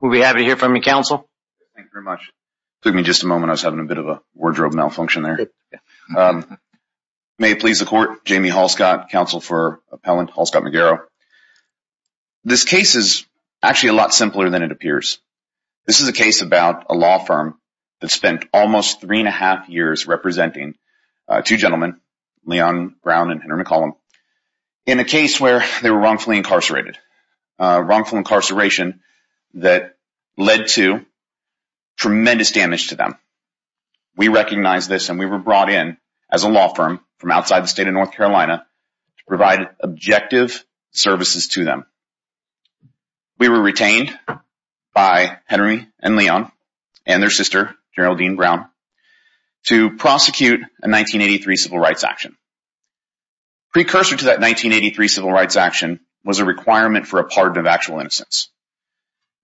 We'll be happy to hear from you, Counsel. Thank you very much. It took me just a moment. I was having a bit of a wardrobe malfunction there. May it please the Court. Jamie Halscott, Counsel for Appellant Halscott Megaro. This case is actually a lot simpler than it appears. This is a case about a law firm that spent almost three and a half years representing two gentlemen, Leon Brown and Henry McCollum, in a case where they were wrongfully incarcerated. Wrongful incarceration that led to tremendous damage to them. We recognize this, and we were brought in as a law firm from outside the state of North Carolina to provide objective services to them. We were retained by Henry and Leon and their sister, General Dean Brown, to prosecute a 1983 civil rights action. Precursor to that 1983 civil rights action was a requirement for a pardon of actual innocence.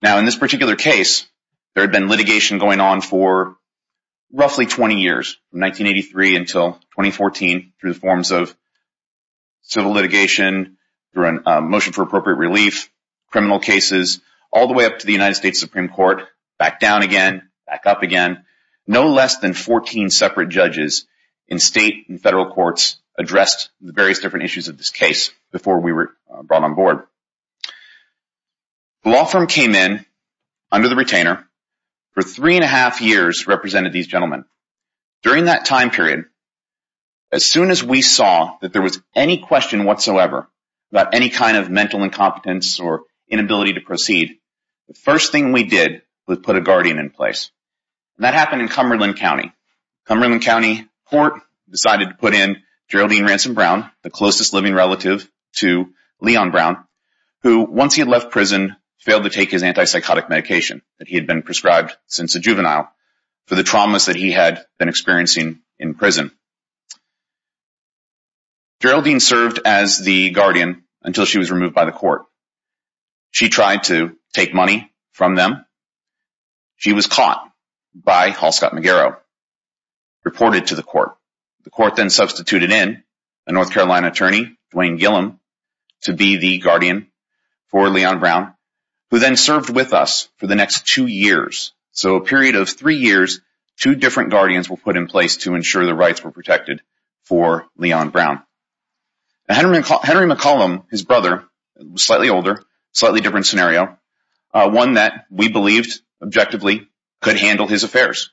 Now, in this particular case, there had been litigation going on for roughly 20 years, from 1983 until 2014, through the forms of civil litigation, through a motion for appropriate relief, criminal cases, all the way up to the United States Supreme Court, back down again, back up again. No less than 14 separate judges in state and federal courts addressed the various different issues of this case before we were brought on board. The law firm came in under the retainer for three and a half years represented these gentlemen. During that time period, as soon as we saw that there was any question whatsoever about any kind of mental incompetence or inability to proceed, the first thing we did was put a guardian in place. That happened in Cumberland County. Cumberland County Court decided to put in General Dean Ransom Brown, the closest living relative to Leon Brown, who, once he had left prison, failed to take his antipsychotic medication that he had been prescribed since a juvenile for the traumas that he had been experiencing in prison. General Dean served as the guardian until she was removed by the court. She tried to take money from them. She was caught by Hall Scott McGarrow, reported to the court. The court then substituted in a North Carolina attorney, Duane Gillum, to be the guardian for Leon Brown, who then served with us for the next two years. So a period of three years, two different guardians were put in place to ensure the rights were protected for Leon Brown. Henry McCollum, his brother, slightly older, slightly different scenario, one that we believed, objectively, could handle his affairs.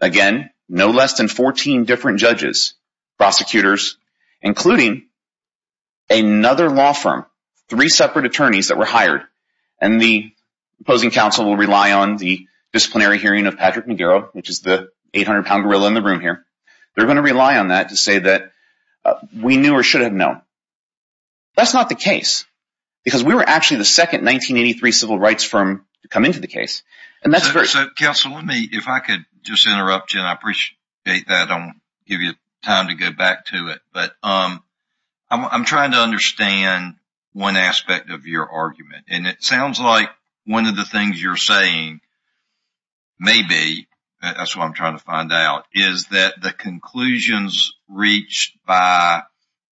Again, no less than 14 different judges, prosecutors, including another law firm, three separate attorneys that were hired. And the opposing counsel will rely on the disciplinary hearing of Patrick McGarrow, which is the 800-pound gorilla in the room here. They're going to rely on that to say that we knew or should have known. That's not the case. Because we were actually the second 1983 civil rights firm to come into the case. And that's very— So, counsel, let me, if I could just interrupt you, and I appreciate that. I'll give you time to go back to it. But I'm trying to understand one aspect of your argument. And it sounds like one of the things you're saying, maybe, that's what I'm trying to find out, is that the conclusions reached by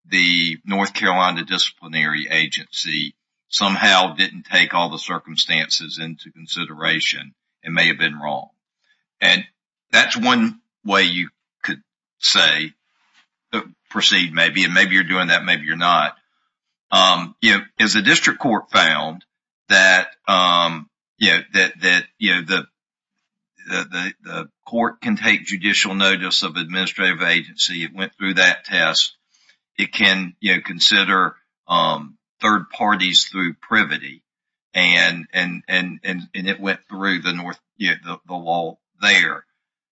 the North Carolina Disciplinary Agency somehow didn't take all the circumstances into consideration. It may have been wrong. And that's one way you could say, proceed, maybe. And maybe you're doing that, maybe you're not. As the district court found, that the court can take judicial notice of administrative agency. It went through that test. It can consider third parties through privity. And it went through the law there.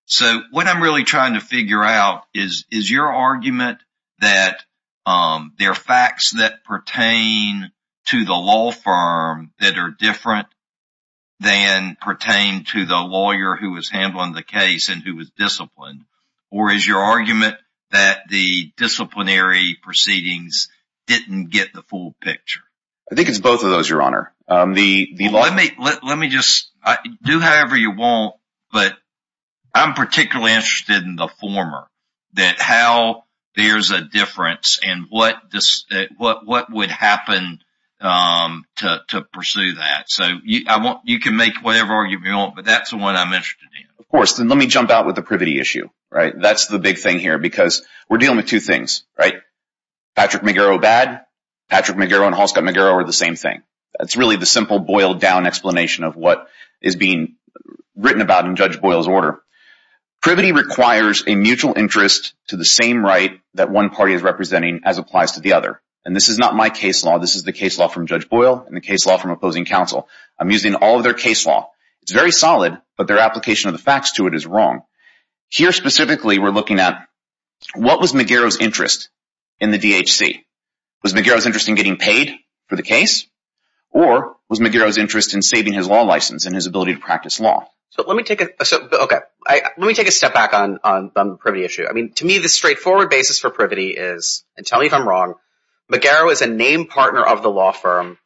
So, what I'm really trying to figure out is, is your argument that there are facts that pertain to the law firm that are different than pertain to the lawyer who was handling the case and who was disciplined? Or is your argument that the disciplinary proceedings didn't get the full picture? I think it's both of those, Your Honor. Let me just, do however you want. But I'm particularly interested in the former, that how there's a difference and what would happen to pursue that. So, you can make whatever argument you want, but that's the one I'm interested in. Of course. Then let me jump out with the privity issue. That's the big thing here, because we're dealing with two things. Patrick McGarrow bad. Patrick McGarrow and Halstead McGarrow are the same thing. That's really the simple, boiled-down explanation of what is being written about in Judge Boyle's order. Privity requires a mutual interest to the same right that one party is representing as applies to the other. And this is not my case law. This is the case law from Judge Boyle and the case law from opposing counsel. I'm using all of their case law. It's very solid, but their application of the facts to it is wrong. Here, specifically, we're looking at what was McGarrow's interest in the DHC? Was McGarrow's interest in getting paid for the case? Or was McGarrow's interest in saving his law license and his ability to practice law? So, let me take a step back on the privity issue. I mean, to me, the straightforward basis for privity is, and tell me if I'm wrong, McGarrow is a named partner of the law firm,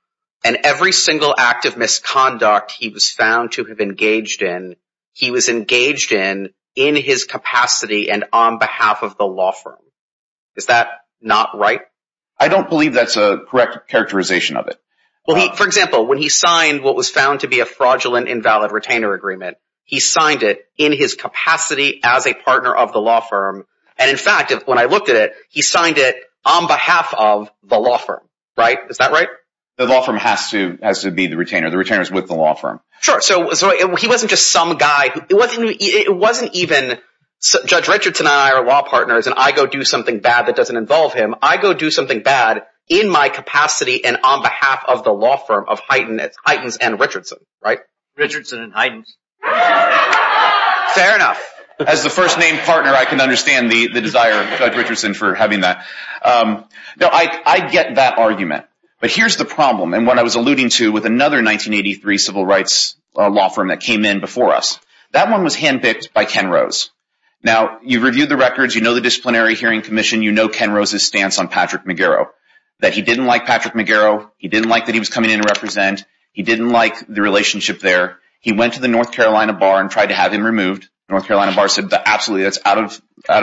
and every single act of misconduct he was found to have engaged in, he was engaged in in his capacity and on behalf of the law firm. Is that not right? I don't believe that's a correct characterization of it. Well, for example, when he signed what was found to be a fraudulent invalid retainer agreement, he signed it in his capacity as a partner of the law firm. And, in fact, when I looked at it, he signed it on behalf of the law firm, right? Is that right? The law firm has to be the retainer. The retainer is with the law firm. Sure. So, he wasn't just some guy. It wasn't even Judge Richardson and I are law partners, and I go do something bad that doesn't involve him. I go do something bad in my capacity and on behalf of the law firm of Heitens and Richardson, right? Richardson and Heitens. Fair enough. As the first named partner, I can understand the desire of Judge Richardson for having that. I get that argument. But here's the problem, and what I was alluding to with another 1983 civil rights law firm that came in before us. That one was hand-picked by Ken Rose. Now, you've reviewed the records. You know the Disciplinary Hearing Commission. You know Ken Rose's stance on Patrick McGarrow, that he didn't like Patrick McGarrow. He didn't like that he was coming in to represent. He didn't like the relationship there. He went to the North Carolina bar and tried to have him removed. The North Carolina bar said, absolutely, that's not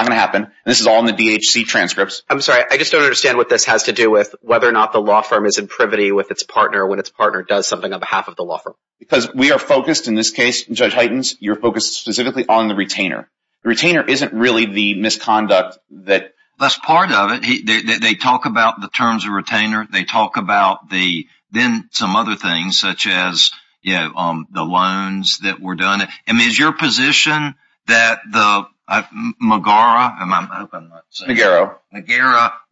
going to happen. This is all in the DHC transcripts. I'm sorry. I just don't understand what this has to do with whether or not the law firm is in privity with its partner when its partner does something on behalf of the law firm. Because we are focused in this case, Judge Heitens, you're focused specifically on the retainer. The retainer isn't really the misconduct that… That's part of it. They talk about the terms of retainer. They talk about then some other things, such as the loans that were done. Is your position that McGarrow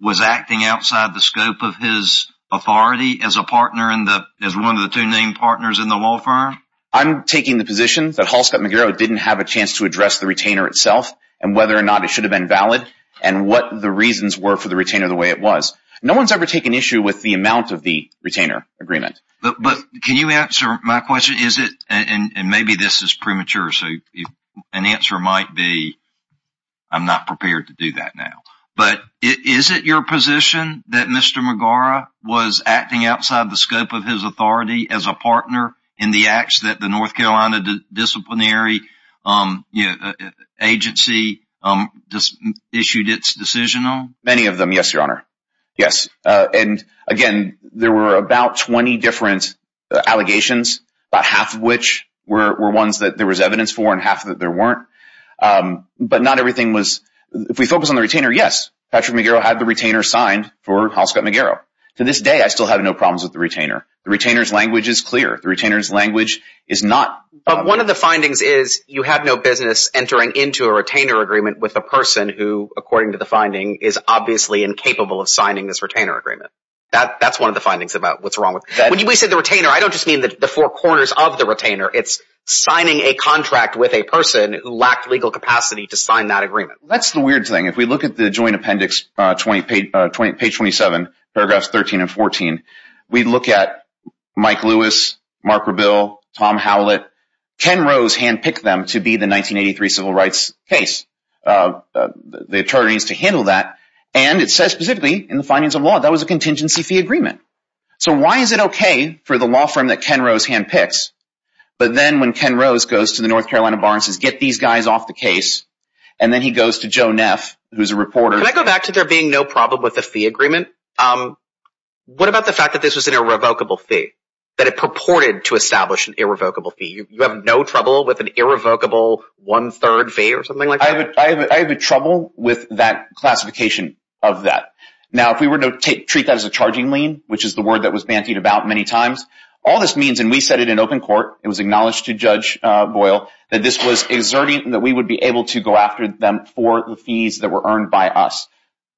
was acting outside the scope of his authority as one of the two main partners in the law firm? I'm taking the position that Halstead McGarrow didn't have a chance to address the retainer itself and whether or not it should have been valid and what the reasons were for the retainer the way it was. No one's ever taken issue with the amount of the retainer agreement. Can you answer my question? Maybe this is premature, so an answer might be I'm not prepared to do that now. Is it your position that Mr. McGarrow was acting outside the scope of his authority as a partner in the acts that the North Carolina Disciplinary Agency issued its decision on? Many of them, yes, Your Honor. Yes, and again, there were about 20 different allegations, about half of which were ones that there was evidence for and half that there weren't. But not everything was… If we focus on the retainer, yes, Patrick McGarrow had the retainer signed for Halstead McGarrow. To this day, I still have no problems with the retainer. The retainer's language is clear. The retainer's language is not… But one of the findings is you have no business entering into a retainer agreement with a person who, according to the finding, is obviously incapable of signing this retainer agreement. That's one of the findings about what's wrong with… When we say the retainer, I don't just mean the four corners of the retainer. It's signing a contract with a person who lacked legal capacity to sign that agreement. That's the weird thing. If we look at the joint appendix, page 27, paragraphs 13 and 14, we look at Mike Lewis, Mark Rebill, Tom Howlett. Ken Rose handpicked them to be the 1983 civil rights case. The attorney needs to handle that. And it says specifically in the findings of law that was a contingency fee agreement. So why is it okay for the law firm that Ken Rose handpicked, but then when Ken Rose goes to the North Carolina Bar and says, get these guys off the case, and then he goes to Joe Neff, who's a reporter… Can I go back to there being no problem with the fee agreement? What about the fact that this was an irrevocable fee, that it purported to establish an irrevocable fee? You have no trouble with an irrevocable one-third fee or something like that? I have trouble with that classification of that. Now, if we were to treat that as a charging lien, which is the word that was bantied about many times, all this means, and we said it in open court, it was acknowledged to Judge Boyle, that this was exerting, that we would be able to go after them for the fees that were earned by us.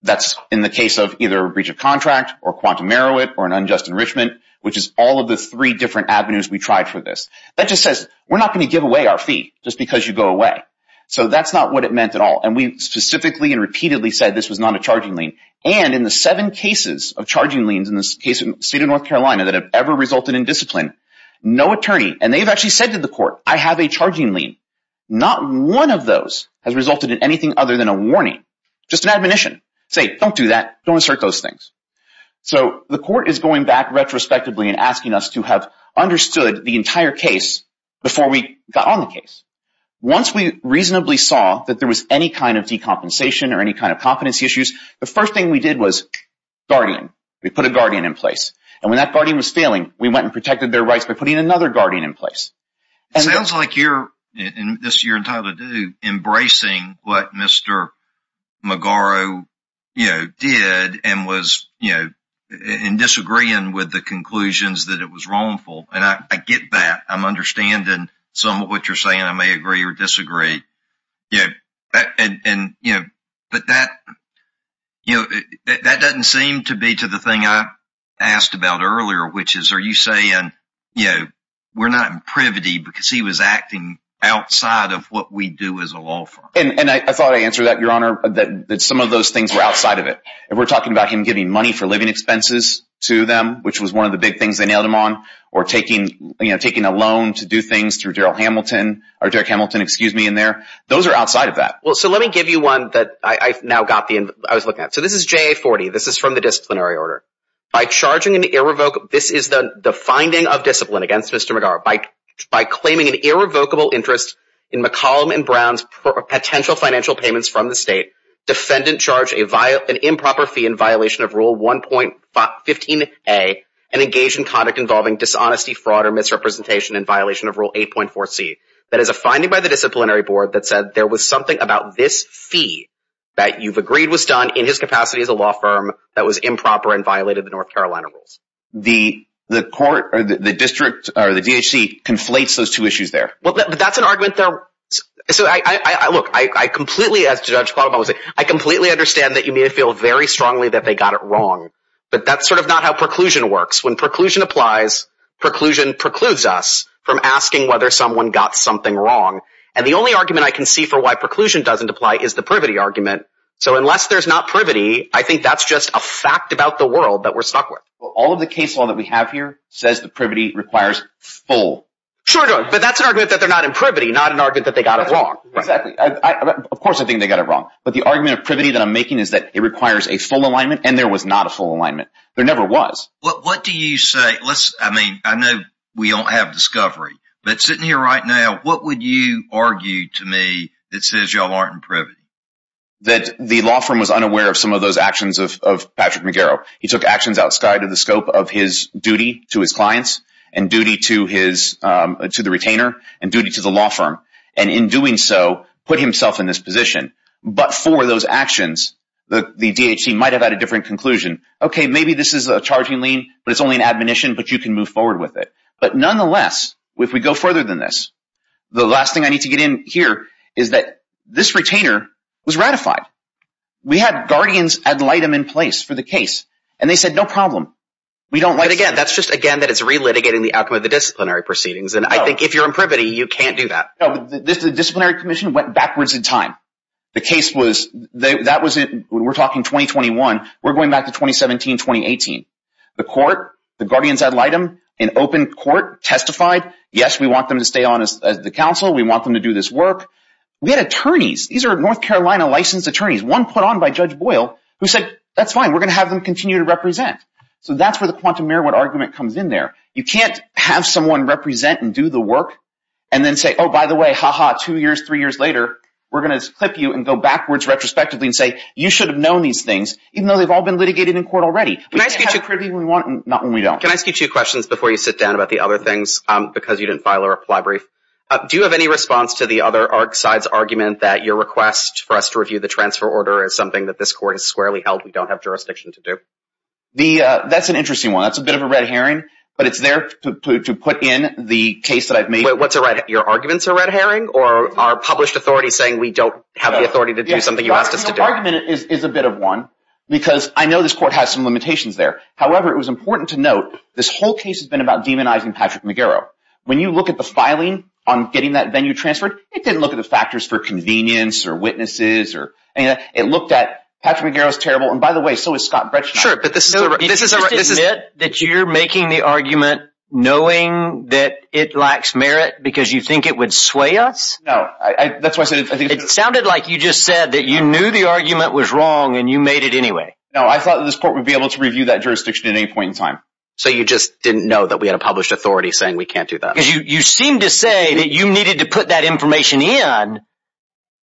That's in the case of either a breach of contract or quantum merit or an unjust enrichment, which is all of the three different avenues we tried for this. That just says we're not going to give away our fee just because you go away. So that's not what it meant at all. And we specifically and repeatedly said this was not a charging lien. And in the seven cases of charging liens in the state of North Carolina that have ever resulted in discipline, no attorney, and they've actually said to the court, I have a charging lien. Not one of those has resulted in anything other than a warning, just an admonition. Say, don't do that. Don't insert those things. So the court is going back retrospectively and asking us to have understood the entire case before we got on the case. Once we reasonably saw that there was any kind of decompensation or any kind of competency issues, the first thing we did was guardian. We put a guardian in place. And when that guardian was failing, we went and protected their rights by putting another guardian in place. It sounds like you're, this year in Title II, embracing what Mr. Magaro did and was, you know, in disagreeing with the conclusions that it was wrongful. And I get that. I'm understanding somewhat what you're saying. I may agree or disagree. Yeah. And, you know, but that, you know, that doesn't seem to be to the thing I asked about earlier, which is, are you saying, you know, we're not privity because he was acting outside of what we do as a law firm? And I thought I answered that, Your Honor, that some of those things were outside of it. If we're talking about him giving money for living expenses to them, which was one of the big things they nailed him on, or taking, you know, taking a loan to do things through Daryl Hamilton, or Derek Hamilton, excuse me, in there, those are outside of that. Well, so let me give you one that I've now got the, I was looking at. So this is JA40. This is from the disciplinary order. By charging an irrevocable, this is the finding of discipline against Mr. McGarrett. By claiming an irrevocable interest in McCollum and Brown's potential financial payments from the state, defendant charged an improper fee in violation of Rule 1.15a and engaged in conduct involving dishonesty, fraud, or misrepresentation in violation of Rule 8.4c. That is a finding by the disciplinary board that said there was something about this fee that you've agreed was done in his capacity as a law firm that was improper and violated the North Carolina rules. The court or the district or the DHC conflates those two issues there. Well, that's an argument there. Look, I completely, as Judge Plotman was saying, I completely understand that you may feel very strongly that they got it wrong. But that's sort of not how preclusion works. When preclusion applies, preclusion precludes us from asking whether someone got something wrong. And the only argument I can see for why preclusion doesn't apply is the privity argument. So unless there's not privity, I think that's just a fact about the world that we're stuck with. Well, all of the case law that we have here says the privity requires full. Sure, but that's an argument that they're not in privity, not an argument that they got it wrong. Exactly. Of course I think they got it wrong. But the argument of privity that I'm making is that it requires a full alignment, and there was not a full alignment. There never was. What do you say? I mean, I know we don't have discovery. But sitting here right now, what would you argue to me that says y'all aren't in privity? That the law firm was unaware of some of those actions of Patrick McGarrow. He took actions outside of the scope of his duty to his clients and duty to the retainer and duty to the law firm. And in doing so, put himself in this position. But for those actions, the DHC might have had a different conclusion. Okay, maybe this is a charging lien, but it's only an admonition, but you can move forward with it. But nonetheless, if we go further than this, the last thing I need to get in here is that this retainer was ratified. We had guardians ad litem in place for the case, and they said no problem. But again, that's just again that it's relitigating the outcome of the disciplinary proceedings. And I think if you're in privity, you can't do that. No, the disciplinary commission went backwards in time. The case was – we're talking 2021. We're going back to 2017, 2018. The court, the guardians ad litem, an open court testified, yes, we want them to stay on as the counsel. We want them to do this work. We had attorneys. These are North Carolina licensed attorneys, one put on by Judge Boyle, who said that's fine. We're going to have them continue to represent. So that's where the quantum merriwet argument comes in there. You can't have someone represent and do the work and then say, oh, by the way, ha-ha, two years, three years later, we're going to clip you and go backwards retrospectively and say you should have known these things, even though they've all been litigated in court already. We can't have privity when we want and not when we don't. Can I ask you two questions before you sit down about the other things because you didn't file a reply brief? Do you have any response to the other side's argument that your request for us to review the transfer order is something that this court has squarely held we don't have jurisdiction to do? That's an interesting one. That's a bit of a red herring, but it's there to put in the case that I've made. Wait, what's a red herring? Your argument's a red herring? Or are published authorities saying we don't have the authority to do something you asked us to do? The argument is a bit of one because I know this court has some limitations there. However, it was important to note this whole case has been about demonizing Patrick McGarrow. When you look at the filing on getting that venue transferred, it didn't look at the factors for convenience or witnesses or anything like that. It looked at Patrick McGarrow's terrible, and by the way, so is Scott Brechner. Sure, but this is a… Do you just admit that you're making the argument knowing that it lacks merit because you think it would sway us? No, that's why I said… It sounded like you just said that you knew the argument was wrong and you made it anyway. No, I thought that this court would be able to review that jurisdiction at any point in time. So you just didn't know that we had a published authority saying we can't do that? You seem to say that you needed to put that information in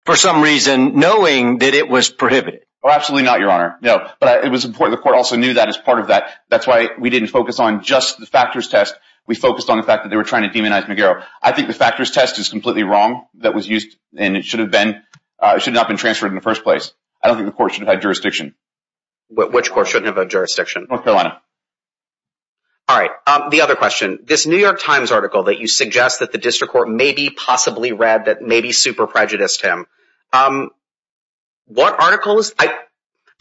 for some reason knowing that it was prohibited. Oh, absolutely not, Your Honor. No, but it was important the court also knew that as part of that. That's why we didn't focus on just the factors test. We focused on the fact that they were trying to demonize McGarrow. I think the factors test is completely wrong. That was used, and it should have been. It should not have been transferred in the first place. I don't think the court should have had jurisdiction. Which court shouldn't have had jurisdiction? North Carolina. All right. The other question. This New York Times article that you suggest that the district court maybe possibly read that maybe super prejudiced him. What article is…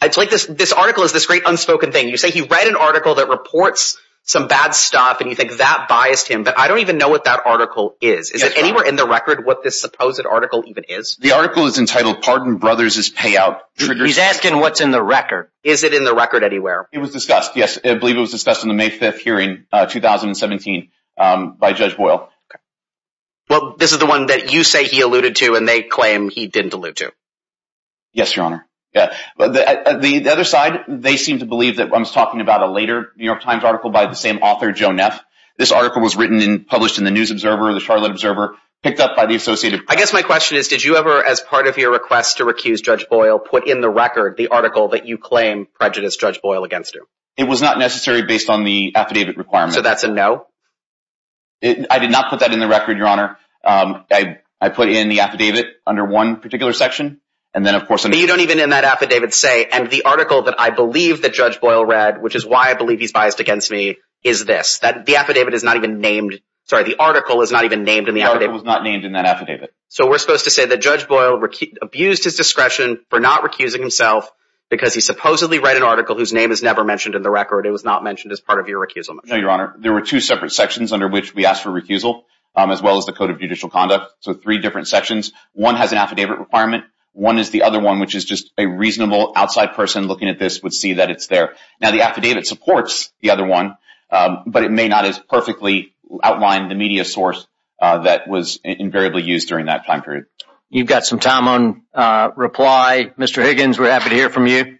It's like this article is this great unspoken thing. You say he read an article that reports some bad stuff, and you think that biased him. But I don't even know what that article is. Is it anywhere in the record what this supposed article even is? The article is entitled Pardon Brothers' Payout. He's asking what's in the record. Is it in the record anywhere? It was discussed, yes. I believe it was discussed in the May 5th hearing, 2017, by Judge Boyle. Okay. Well, this is the one that you say he alluded to, and they claim he didn't allude to. Yes, Your Honor. The other side, they seem to believe that I was talking about a later New York Times article by the same author, Joe Neff. This article was written and published in the News Observer, the Charlotte Observer, picked up by the Associated Press. I guess my question is, did you ever, as part of your request to recuse Judge Boyle, put in the record the article that you claim prejudiced Judge Boyle against him? It was not necessary based on the affidavit requirement. So that's a no? I did not put that in the record, Your Honor. I put in the affidavit under one particular section, and then of course… But you don't even in that affidavit say, and the article that I believe that Judge Boyle read, which is why I believe he's biased against me, is this. The affidavit is not even named. Sorry, the article is not even named in the affidavit. So we're supposed to say that Judge Boyle abused his discretion for not recusing himself because he supposedly read an article whose name is never mentioned in the record. It was not mentioned as part of your recusal. No, Your Honor. There were two separate sections under which we asked for recusal, as well as the Code of Judicial Conduct. So three different sections. One has an affidavit requirement. One is the other one, which is just a reasonable outside person looking at this would see that it's there. Now, the affidavit supports the other one, but it may not as perfectly outline the media source that was invariably used during that time period. You've got some time on reply. Mr. Higgins, we're happy to hear from you.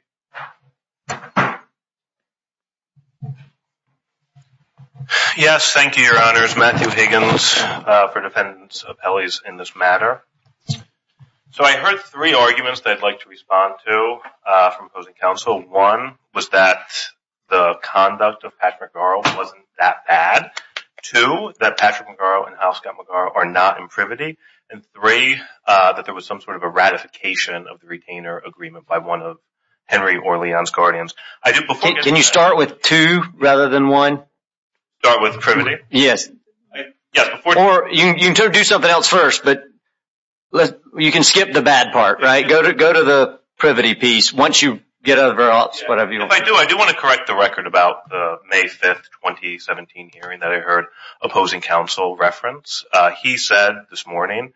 Yes, thank you, Your Honors. Matthew Higgins for defendants' appellees in this matter. So I heard three arguments that I'd like to respond to from opposing counsel. One was that the conduct of Patrick McGarrow wasn't that bad. Two, that Patrick McGarrow and Al Scott McGarrow are not in privity. And three, that there was some sort of a ratification of the retainer agreement by one of Henry or Leon's guardians. Can you start with two rather than one? Start with privity? Yes. Or you can do something else first, but you can skip the bad part, right? Go to the privity piece once you get over whatever you want. If I do, I do want to correct the record about the May 5, 2017 hearing that I heard opposing counsel reference. He said this morning,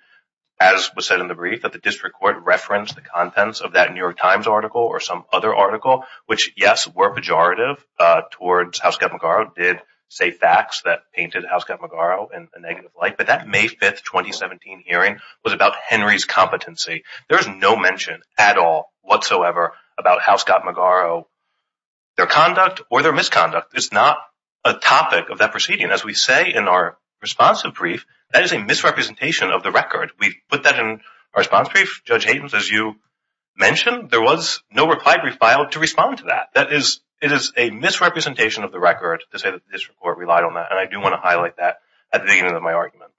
as was said in the brief, that the district court referenced the contents of that New York Times article or some other article, which, yes, were pejorative towards how Scott McGarrow did say facts that painted Al Scott McGarrow in a negative light. But that May 5, 2017 hearing was about Henry's competency. There is no mention at all whatsoever about how Scott McGarrow, their conduct or their misconduct. It's not a topic of that proceeding. As we say in our responsive brief, that is a misrepresentation of the record. We put that in our response brief. Judge Hayden, as you mentioned, there was no reply brief filed to respond to that. It is a misrepresentation of the record to say that the district court relied on that, and I do want to highlight that at the beginning of my argument.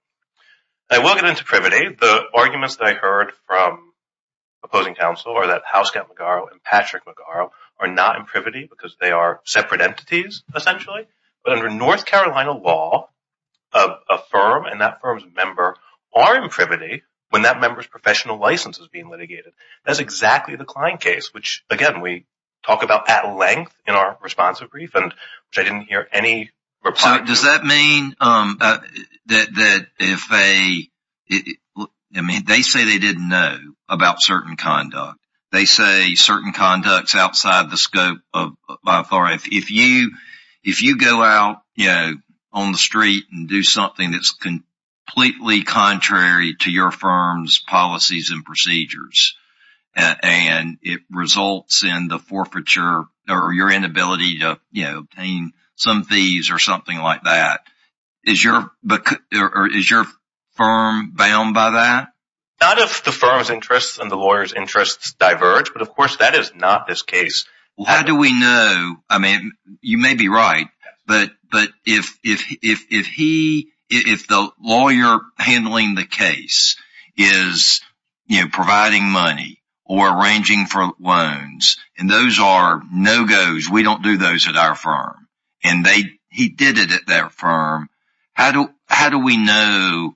I will get into privity. The arguments that I heard from opposing counsel are that Al Scott McGarrow and Patrick McGarrow are not in privity because they are separate entities, essentially. But under North Carolina law, a firm and that firm's member are in privity when that member's professional license is being litigated. That's exactly the Klein case, which, again, we talk about at length in our responsive brief, and I didn't hear any reply. Does that mean that if they – I mean, they say they didn't know about certain conduct. They say certain conduct is outside the scope of my authority. If you go out on the street and do something that's completely contrary to your firm's policies and procedures and it results in the forfeiture or your inability to obtain some fees or something like that, is your firm bound by that? Not if the firm's interests and the lawyer's interests diverge, but, of course, that is not this case. How do we know – I mean, you may be right, but if he – if the lawyer handling the case is providing money or arranging for loans, and those are no-goes, we don't do those at our firm, and he did it at that firm, how do we know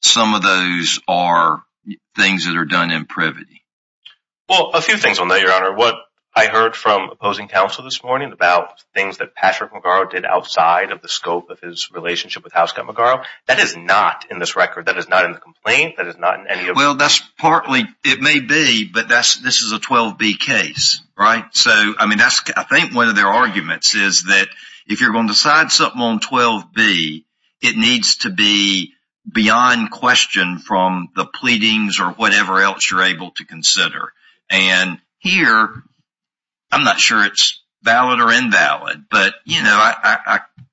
some of those are things that are done in privity? Well, a few things on that, Your Honor. What I heard from opposing counsel this morning about things that Patrick Magaro did outside of the scope of his relationship with Housecutt Magaro, that is not in this record. That is not in the complaint. That is not in any of – Well, that's partly – it may be, but this is a 12B case, right? So, I mean, that's – I think one of their arguments is that if you're going to decide something on 12B, it needs to be beyond question from the pleadings or whatever else you're able to consider. And here, I'm not sure it's valid or invalid, but, you know,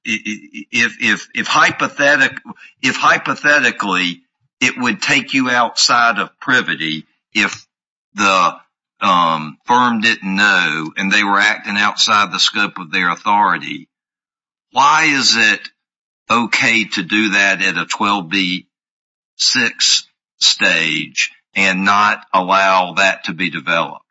if hypothetically it would take you outside of privity if the firm didn't know and they were acting outside the scope of their authority, why is it okay to do that at a 12B-6 stage and not allow that to be developed?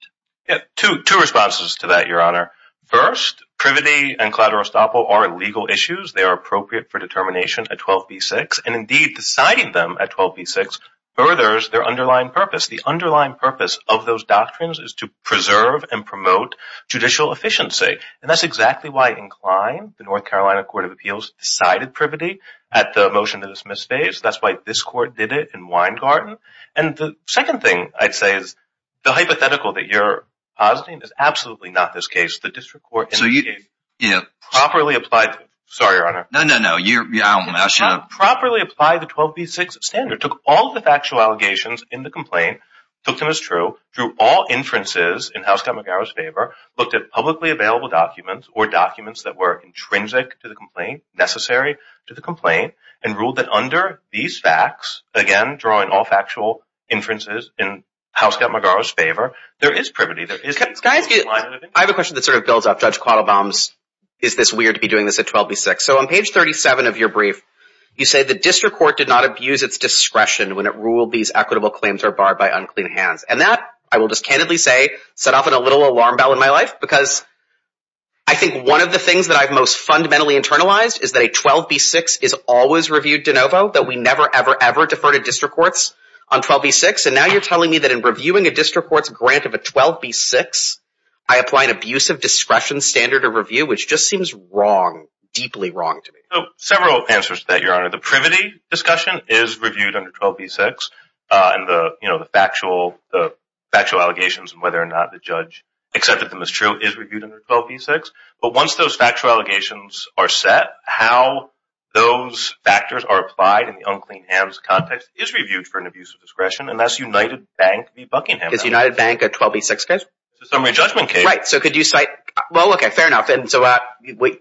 Yeah, two responses to that, Your Honor. First, privity and collateral estoppel are legal issues. They are appropriate for determination at 12B-6, and, indeed, deciding them at 12B-6 furthers their underlying purpose. The underlying purpose of those doctrines is to preserve and promote judicial efficiency. And that's exactly why INCLINE, the North Carolina Court of Appeals, decided privity at the motion that was misphased. That's why this Court did it in Weingarten. And the second thing I'd say is the hypothetical that you're positing is absolutely not this case. The district court – So you – Properly applied – sorry, Your Honor. No, no, no. I don't want to ask you – Properly applied the 12B-6 standard, took all the factual allegations in the complaint, took them as true, drew all inferences in Housecutt-McGarris' favor, looked at publicly available documents or documents that were intrinsic to the complaint, necessary to the complaint, and ruled that under these facts, again, drawing all factual inferences in Housecutt-McGarris' favor, there is privity, there is – Can I ask you – I have a question that sort of builds off Judge Quattlebaum's, is this weird to be doing this at 12B-6. So on page 37 of your brief, you say the district court did not abuse its discretion when it ruled these equitable claims are barred by unclean hands. And that, I will just candidly say, set off a little alarm bell in my life because I think one of the things that I've most fundamentally internalized is that a 12B-6 is always reviewed de novo, that we never, ever, ever defer to district courts on 12B-6. And now you're telling me that in reviewing a district court's grant of a 12B-6, I apply an abusive discretion standard of review, which just seems wrong, deeply wrong to me. So several answers to that, Your Honor. The privity discussion is reviewed under 12B-6, and the factual allegations and whether or not the judge accepted them as true is reviewed under 12B-6. But once those factual allegations are set, how those factors are applied in the unclean hands context is reviewed for an abusive discretion, and that's United Bank v. Buckingham. Is United Bank a 12B-6 case? It's a summary judgment case. Right. So could you cite – well, OK, fair enough. And so –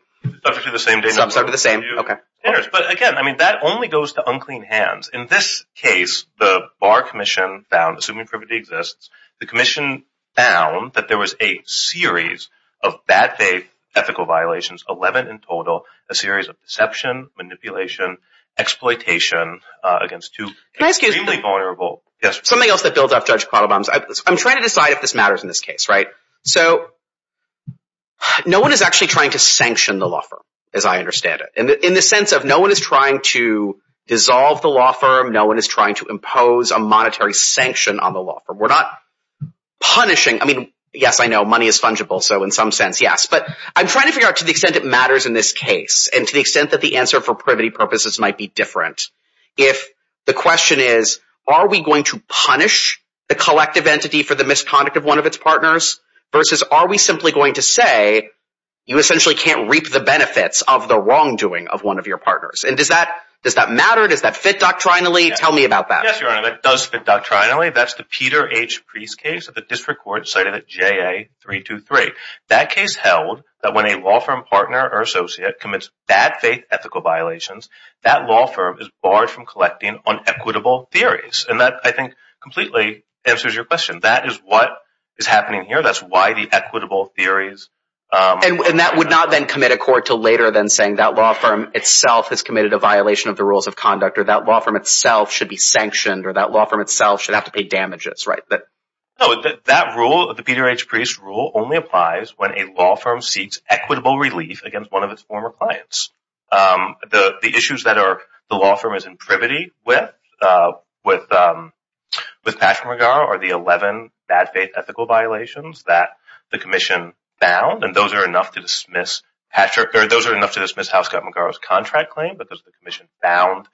Subject to the same date. Subject to the same – OK. But again, I mean, that only goes to unclean hands. In this case, the Bar Commission found, assuming privity exists, the Commission found that there was a series of bad faith ethical violations, 11 in total, a series of deception, manipulation, exploitation against two extremely vulnerable – Can I ask you something? Yes. I'm trying to decide if this matters in this case, right? So no one is actually trying to sanction the law firm, as I understand it, in the sense of no one is trying to dissolve the law firm, no one is trying to impose a monetary sanction on the law firm. We're not punishing – I mean, yes, I know money is fungible, so in some sense, yes. But I'm trying to figure out to the extent it matters in this case and to the extent that the answer for privity purposes might be different if the question is, are we going to punish the collective entity for the misconduct of one of its partners versus are we simply going to say you essentially can't reap the benefits of the wrongdoing of one of your partners? And does that matter? Does that fit doctrinally? Tell me about that. Yes, Your Honor, that does fit doctrinally. That's the Peter H. Priest case that the district court cited at JA-323. That case held that when a law firm partner or associate commits bad faith ethical violations, that law firm is barred from collecting on equitable theories. And that, I think, completely answers your question. That is what is happening here. That's why the equitable theories – And that would not then commit a court to later than saying that law firm itself has committed a violation of the rules of conduct or that law firm itself should be sanctioned or that law firm itself should have to pay damages, right? No, that rule, the Peter H. Priest rule, only applies when a law firm seeks equitable relief against one of its former clients. The issues that the law firm is in privity with, with Patrick McGarrow, are the 11 bad faith ethical violations that the commission found. And those are enough to dismiss Patrick – those are enough to dismiss how Scott McGarrow's contract claimed. But the commission found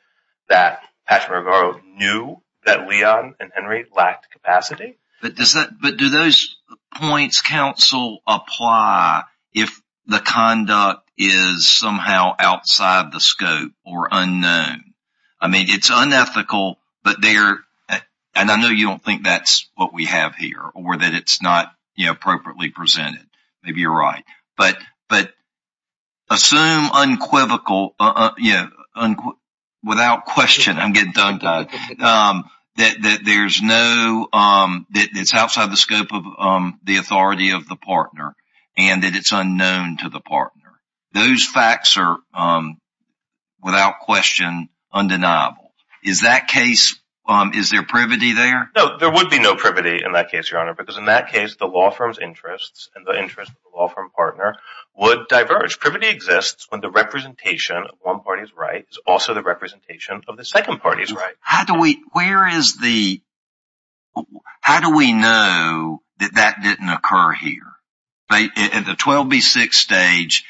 that Patrick McGarrow knew that Leon and Henry lacked capacity. But do those points, counsel, apply if the conduct is somehow outside the scope or unknown? I mean, it's unethical, but there – and I know you don't think that's what we have here or that it's not appropriately presented. Maybe you're right. But assume unquivocal – without question, I'm getting dug-dug – that there's no – that it's outside the scope of the authority of the partner and that it's unknown to the partner. Those facts are, without question, undeniable. Is that case – is there privity there? No, there would be no privity in that case, Your Honor, because in that case, the law firm's interests and the interests of the law firm partner would diverge. Privity exists when the representation of one party's right is also the representation of the second party's right. How do we – where is the – how do we know that that didn't occur here? At the 12B6 stage,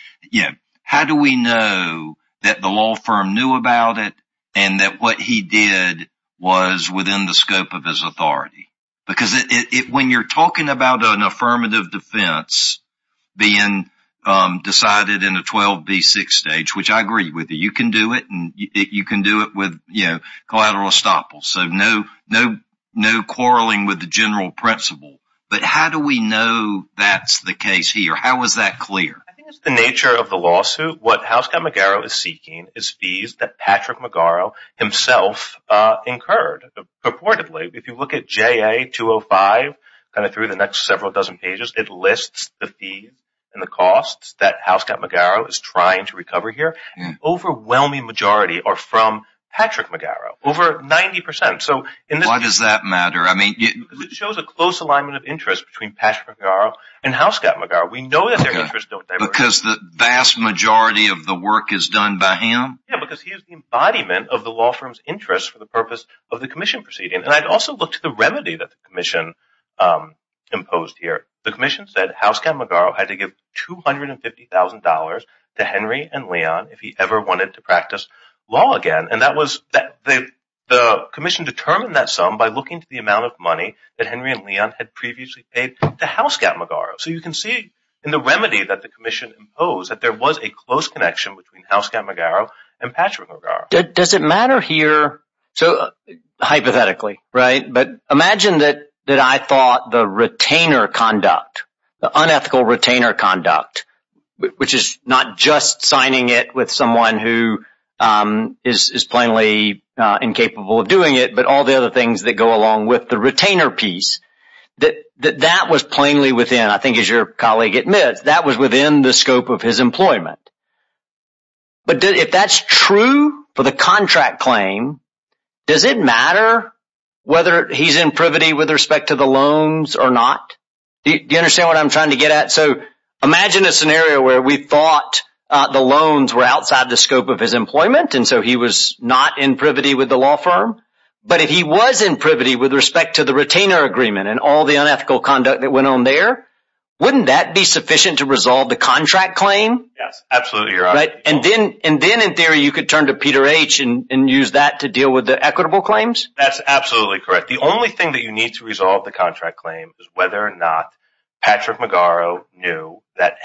how do we know that the law firm knew about it and that what he did was within the scope of his authority? Because it – when you're talking about an affirmative defense being decided in a 12B6 stage, which I agree with you, you can do it and you can do it with collateral estoppel, so no quarreling with the general principle. But how do we know that's the case here? How is that clear? I think it's the nature of the lawsuit. What Housecutt McGarrow is seeking is fees that Patrick McGarrow himself incurred. Purportedly, if you look at JA-205, kind of through the next several dozen pages, it lists the fee and the costs that Housecutt McGarrow is trying to recover here. An overwhelming majority are from Patrick McGarrow, over 90 percent. Why does that matter? Because it shows a close alignment of interest between Patrick McGarrow and Housecutt McGarrow. We know that their interests don't diverge. Because the vast majority of the work is done by him? Yeah, because he is the embodiment of the law firm's interest for the purpose of the commission proceeding. And I'd also look to the remedy that the commission imposed here. The commission said Housecutt McGarrow had to give $250,000 to Henry and Leon if he ever wanted to practice law again. And the commission determined that sum by looking to the amount of money that Henry and Leon had previously paid to Housecutt McGarrow. So you can see in the remedy that the commission imposed that there was a close connection between Housecutt McGarrow and Patrick McGarrow. Does it matter here? Hypothetically, right? But imagine that I thought the retainer conduct, the unethical retainer conduct, which is not just signing it with someone who is plainly incapable of doing it, but all the other things that go along with the retainer piece, that that was plainly within, I think as your colleague admits, that was within the scope of his employment. But if that's true for the contract claim, does it matter whether he's in privity with respect to the loans or not? Do you understand what I'm trying to get at? So imagine a scenario where we thought the loans were outside the scope of his employment, and so he was not in privity with the law firm. But if he was in privity with respect to the retainer agreement and all the unethical conduct that went on there, wouldn't that be sufficient to resolve the contract claim? Yes, absolutely, Your Honor. And then in theory you could turn to Peter H. and use that to deal with the equitable claims? That's absolutely correct. The only thing that you need to resolve the contract claim is whether or not Patrick McGarrow knew that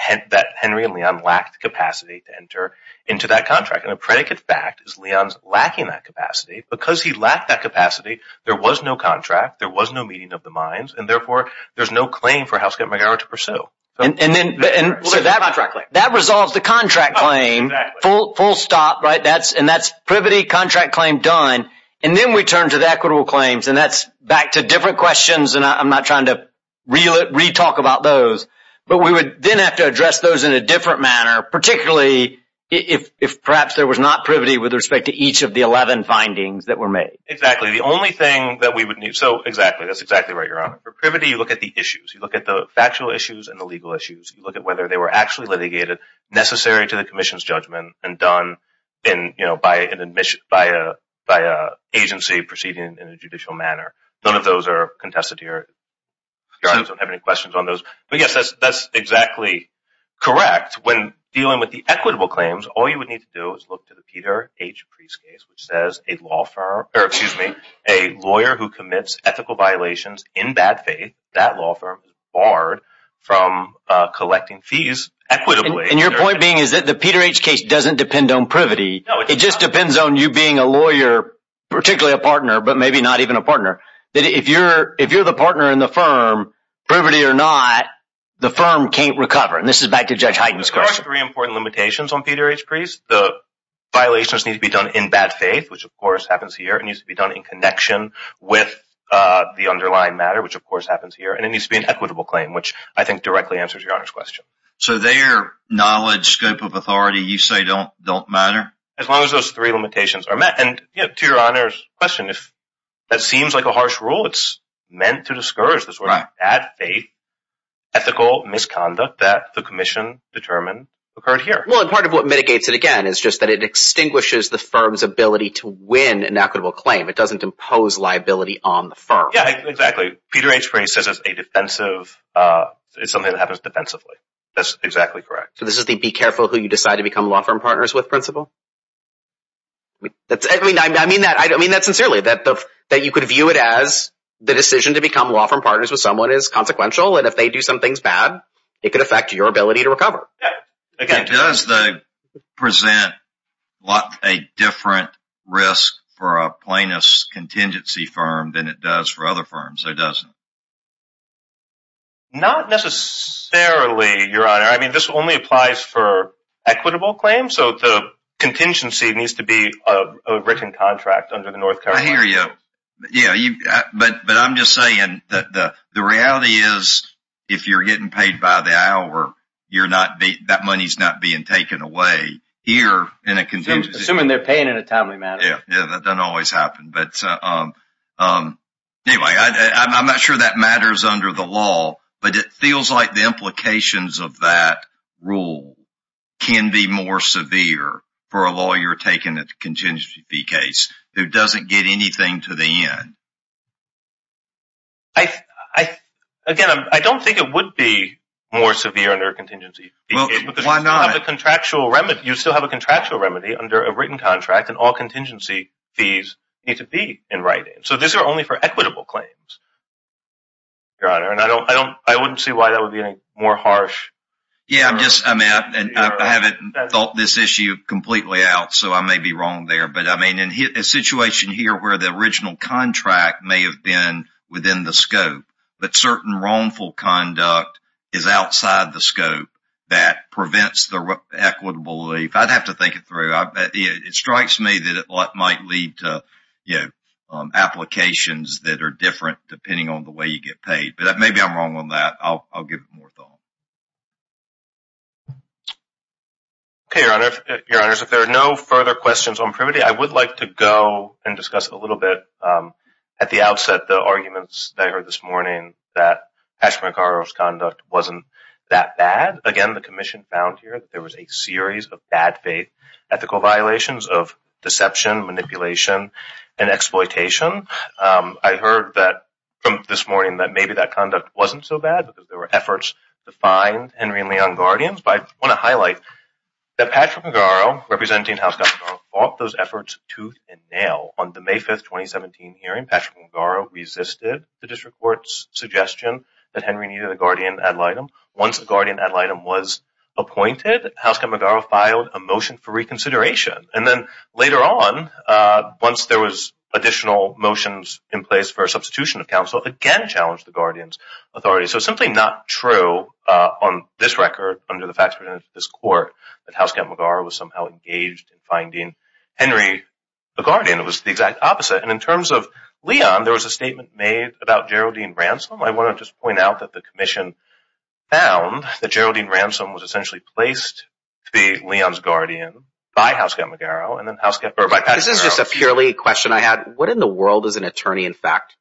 Henry and Leon lacked capacity to enter into that contract. And a predicate fact is Leon's lacking that capacity. Because he lacked that capacity, there was no contract, there was no meeting of the minds, and therefore there's no claim for Housecap McGarrow to pursue. And so that resolves the contract claim, full stop, right? And that's privity, contract claim, done. And then we turn to the equitable claims, and that's back to different questions, and I'm not trying to re-talk about those. But we would then have to address those in a different manner, particularly if perhaps there was not privity with respect to each of the 11 findings that were made. Exactly. The only thing that we would need – so, exactly, that's exactly right, Your Honor. For privity, you look at the issues. You look at the factual issues and the legal issues. You look at whether they were actually litigated necessary to the commission's judgment and done by an agency proceeding in a judicial manner. None of those are contested here. Your Honor, I don't have any questions on those. But, yes, that's exactly correct. When dealing with the equitable claims, all you would need to do is look to the Peter H. Priest case, which says a lawyer who commits ethical violations in bad faith, that law firm is barred from collecting fees equitably. And your point being is that the Peter H. case doesn't depend on privity. It just depends on you being a lawyer, particularly a partner, but maybe not even a partner. If you're the partner in the firm, privity or not, the firm can't recover. And this is back to Judge Hyten's question. There are three important limitations on Peter H. Priest. The violations need to be done in bad faith, which, of course, happens here. It needs to be done in connection with the underlying matter, which, of course, happens here. And it needs to be an equitable claim, which I think directly answers Your Honor's question. So, their knowledge, scope of authority you say don't matter? As long as those three limitations are met. And to Your Honor's question, if that seems like a harsh rule, it's meant to discourage this sort of bad faith ethical misconduct that the commission determined occurred here. Well, and part of what mitigates it, again, is just that it extinguishes the firm's ability to win an equitable claim. It doesn't impose liability on the firm. Yeah, exactly. Peter H. Priest says it's something that happens defensively. That's exactly correct. So, this is the be careful who you decide to become law firm partners with principle? I mean that sincerely. That you could view it as the decision to become law firm partners with someone is consequential. And if they do some things bad, it could affect your ability to recover. Yeah. It does present a different risk for a plaintiff's contingency firm than it does for other firms, though, doesn't it? Not necessarily, Your Honor. I mean, this only applies for equitable claims. So, the contingency needs to be a written contract under the North Carolina law. I hear you. But I'm just saying that the reality is if you're getting paid by the hour, that money's not being taken away. Assuming they're paying in a timely manner. Yeah, that doesn't always happen. But anyway, I'm not sure that matters under the law. But it feels like the implications of that rule can be more severe for a lawyer taking a contingency fee case who doesn't get anything to the end. Again, I don't think it would be more severe under a contingency fee case. Why not? You still have a contractual remedy under a written contract, and all contingency fees need to be in writing. So, these are only for equitable claims, Your Honor. And I wouldn't see why that would be any more harsh. Yeah, I haven't thought this issue completely out, so I may be wrong there. But, I mean, in a situation here where the original contract may have been within the scope, but certain wrongful conduct is outside the scope that prevents the equitable relief. I'd have to think it through. It strikes me that it might lead to applications that are different depending on the way you get paid. But maybe I'm wrong on that. I'll give it more thought. Okay, Your Honor. Your Honors, if there are no further questions on privity, I would like to go and discuss a little bit at the outset the arguments that I heard this morning that Ash McCarroll's conduct wasn't that bad. Again, the Commission found here that there was a series of bad faith ethical violations of deception, manipulation, and exploitation. I heard that from this morning that maybe that conduct wasn't so bad because there were efforts to find Henry and Leon guardians. But I want to highlight that Patrick McGarrow, representing Housecutt-McGarrow, fought those efforts tooth and nail. On the May 5, 2017 hearing, Patrick McGarrow resisted the district court's suggestion that Henry needed a guardian ad litem. Once a guardian ad litem was appointed, Housecutt-McGarrow filed a motion for reconsideration. And then later on, once there was additional motions in place for a substitution of counsel, again challenged the guardian's authority. So it's simply not true on this record under the facts presented to this court that Housecutt-McGarrow was somehow engaged in finding Henry a guardian. It was the exact opposite. And in terms of Leon, there was a statement made about Geraldine Ransom. I want to just point out that the commission found that Geraldine Ransom was essentially placed to be Leon's guardian by Patrick McGarrow. This is just a purely question I had. What in the world is an attorney in fact?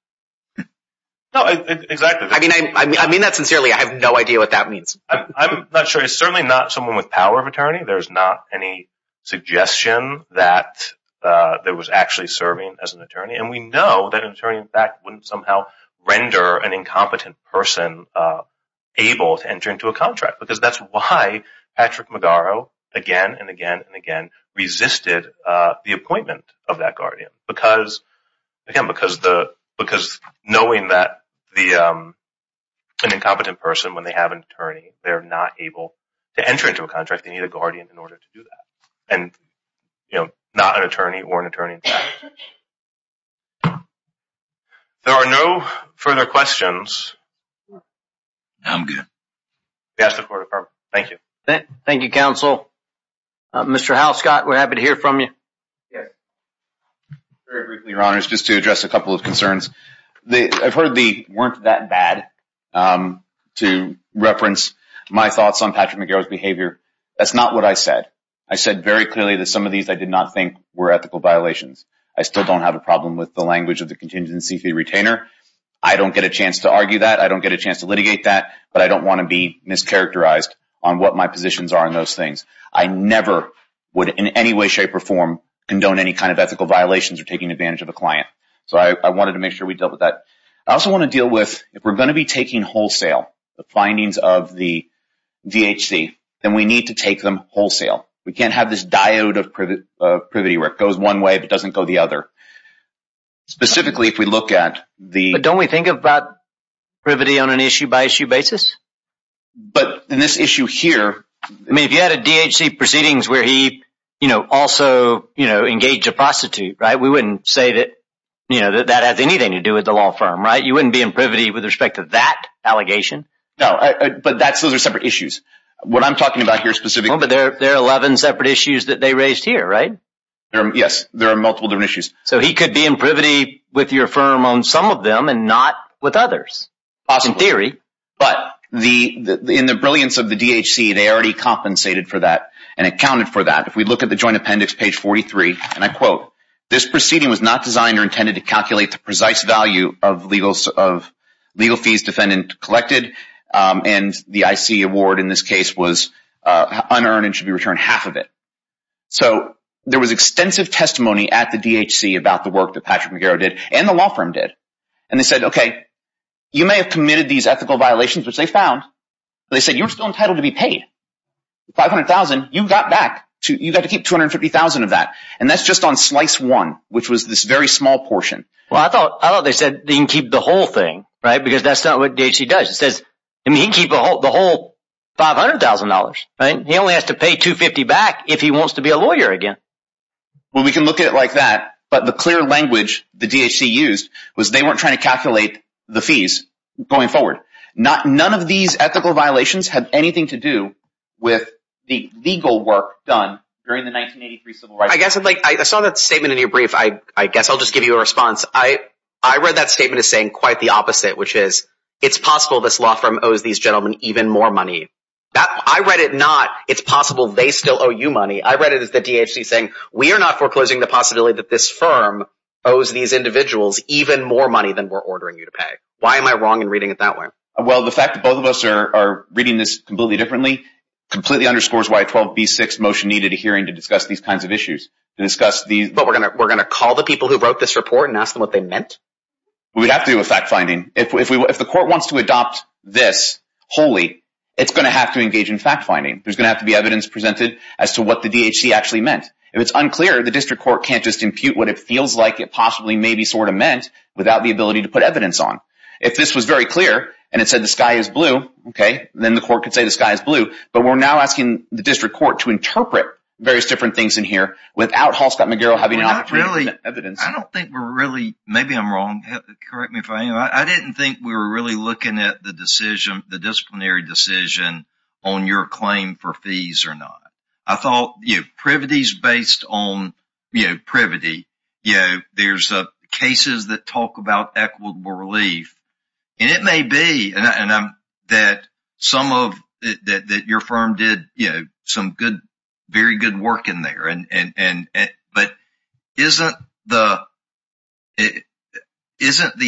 No, exactly. I mean that sincerely. I have no idea what that means. I'm not sure. He's certainly not someone with power of attorney. There's not any suggestion that there was actually serving as an attorney. And we know that an attorney in fact wouldn't somehow render an incompetent person able to enter into a contract. Because that's why Patrick McGarrow again and again and again resisted the appointment of that guardian. Again, because knowing that an incompetent person, when they have an attorney, they're not able to enter into a contract. They need a guardian in order to do that. And not an attorney or an attorney in fact. There are no further questions. I'm good. Thank you. Thank you, counsel. Mr. Howell-Scott, we're happy to hear from you. Very briefly, your honors, just to address a couple of concerns. I've heard the weren't that bad to reference my thoughts on Patrick McGarrow's behavior. That's not what I said. I said very clearly that some of these I did not think were ethical violations. I still don't have a problem with the language of the contingency fee retainer. I don't get a chance to argue that. I don't get a chance to litigate that. But I don't want to be mischaracterized on what my positions are on those things. I never would in any way, shape, or form condone any kind of ethical violations or taking advantage of a client. So I wanted to make sure we dealt with that. I also want to deal with if we're going to be taking wholesale the findings of the DHC, then we need to take them wholesale. We can't have this diode of privity where it goes one way but doesn't go the other. Specifically, if we look at the- But don't we think about privity on an issue-by-issue basis? But in this issue here- I mean, if you had a DHC proceedings where he also engaged a prostitute, right, we wouldn't say that that has anything to do with the law firm, right? You wouldn't be in privity with respect to that allegation? No, but those are separate issues. What I'm talking about here specifically- But there are 11 separate issues that they raised here, right? Yes, there are multiple different issues. So he could be in privity with your firm on some of them and not with others? Possibly. In theory. But in the brilliance of the DHC, they already compensated for that and accounted for that. If we look at the joint appendix, page 43, and I quote, this proceeding was not designed or intended to calculate the precise value of legal fees defendant collected and the IC award in this case was unearned and should be returned half of it. So there was extensive testimony at the DHC about the work that Patrick McGarrow did and the law firm did. And they said, okay, you may have committed these ethical violations, which they found. They said you're still entitled to be paid. $500,000, you got back. You got to keep $250,000 of that. And that's just on slice one, which was this very small portion. Well, I thought they said they can keep the whole thing, right? Because that's not what DHC does. It says he can keep the whole $500,000. He only has to pay $250,000 back if he wants to be a lawyer again. Well, we can look at it like that. But the clear language the DHC used was they weren't trying to calculate the fees going forward. None of these ethical violations had anything to do with the legal work done during the 1983 civil rights movement. I saw that statement in your brief. I guess I'll just give you a response. I read that statement as saying quite the opposite, which is it's possible this law firm owes these gentlemen even more money. I read it not it's possible they still owe you money. I read it as the DHC saying we are not foreclosing the possibility that this firm owes these individuals even more money than we're ordering you to pay. Why am I wrong in reading it that way? Well, the fact that both of us are reading this completely differently completely underscores why a 12B6 motion needed a hearing to discuss these kinds of issues. But we're going to call the people who wrote this report and ask them what they meant? We'd have to do a fact-finding. If the court wants to adopt this wholly, it's going to have to engage in fact-finding. There's going to have to be evidence presented as to what the DHC actually meant. If it's unclear, the district court can't just impute what it feels like it possibly maybe sort of meant without the ability to put evidence on. If this was very clear and it said the sky is blue, okay, then the court could say the sky is blue. But we're now asking the district court to interpret various different things in here without Hall Scott McGarrill having an opportunity to present evidence. I don't think we're really – maybe I'm wrong. Correct me if I am. I didn't think we were really looking at the disciplinary decision on your claim for fees or not. I thought privity is based on privity. There are cases that talk about equitable relief, and it may be that your firm did some very good work in there. But isn't the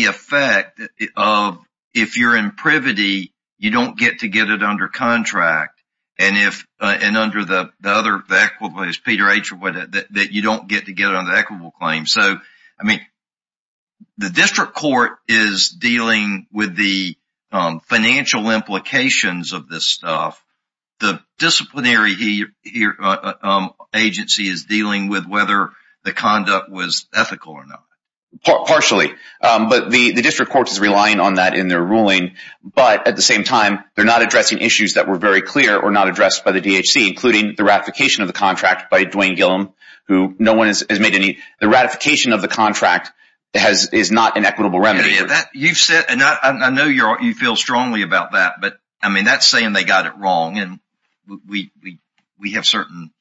effect of, if you're in privity, you don't get to get it under contract, and under the other equitable claims, that you don't get to get it under equitable claims? The district court is dealing with the financial implications of this stuff. The disciplinary agency is dealing with whether the conduct was ethical or not. Partially, but the district court is relying on that in their ruling. But at the same time, they're not addressing issues that were very clear or not addressed by the DHC, including the ratification of the contract by Dwayne Gillum, who no one has made any – the ratification of the contract is not an equitable remedy. I know you feel strongly about that, but that's saying they got it wrong, and we have certain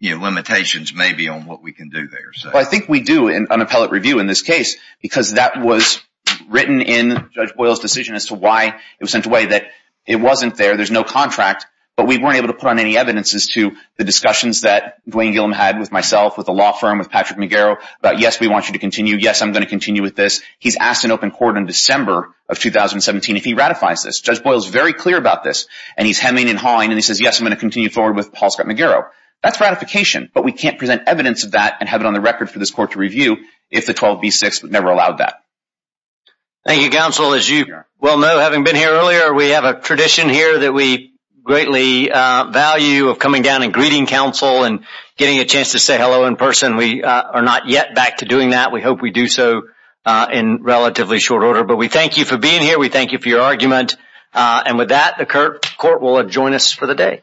limitations maybe on what we can do there. I think we do in an appellate review in this case, because that was written in Judge Boyle's decision as to why it was sent away, that it wasn't there. There's no contract, but we weren't able to put on any evidence as to the discussions that Dwayne Gillum had with myself, with the law firm, with Patrick McGarrow, about yes, we want you to continue. Yes, I'm going to continue with this. He's asked an open court in December of 2017 if he ratifies this. Judge Boyle is very clear about this, and he's hemming and hawing, and he says, yes, I'm going to continue forward with Paul Scott McGarrow. That's ratification, but we can't present evidence of that and have it on the record for this court to review if the 12B6 never allowed that. Thank you, counsel. As you well know, having been here earlier, we have a tradition here that we greatly value of coming down and greeting counsel and getting a chance to say hello in person. We are not yet back to doing that. We hope we do so in relatively short order, but we thank you for being here. We thank you for your argument, and with that, the court will adjoin us for the day.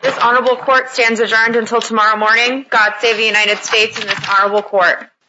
This honorable court stands adjourned until tomorrow morning. God save the United States and this honorable court.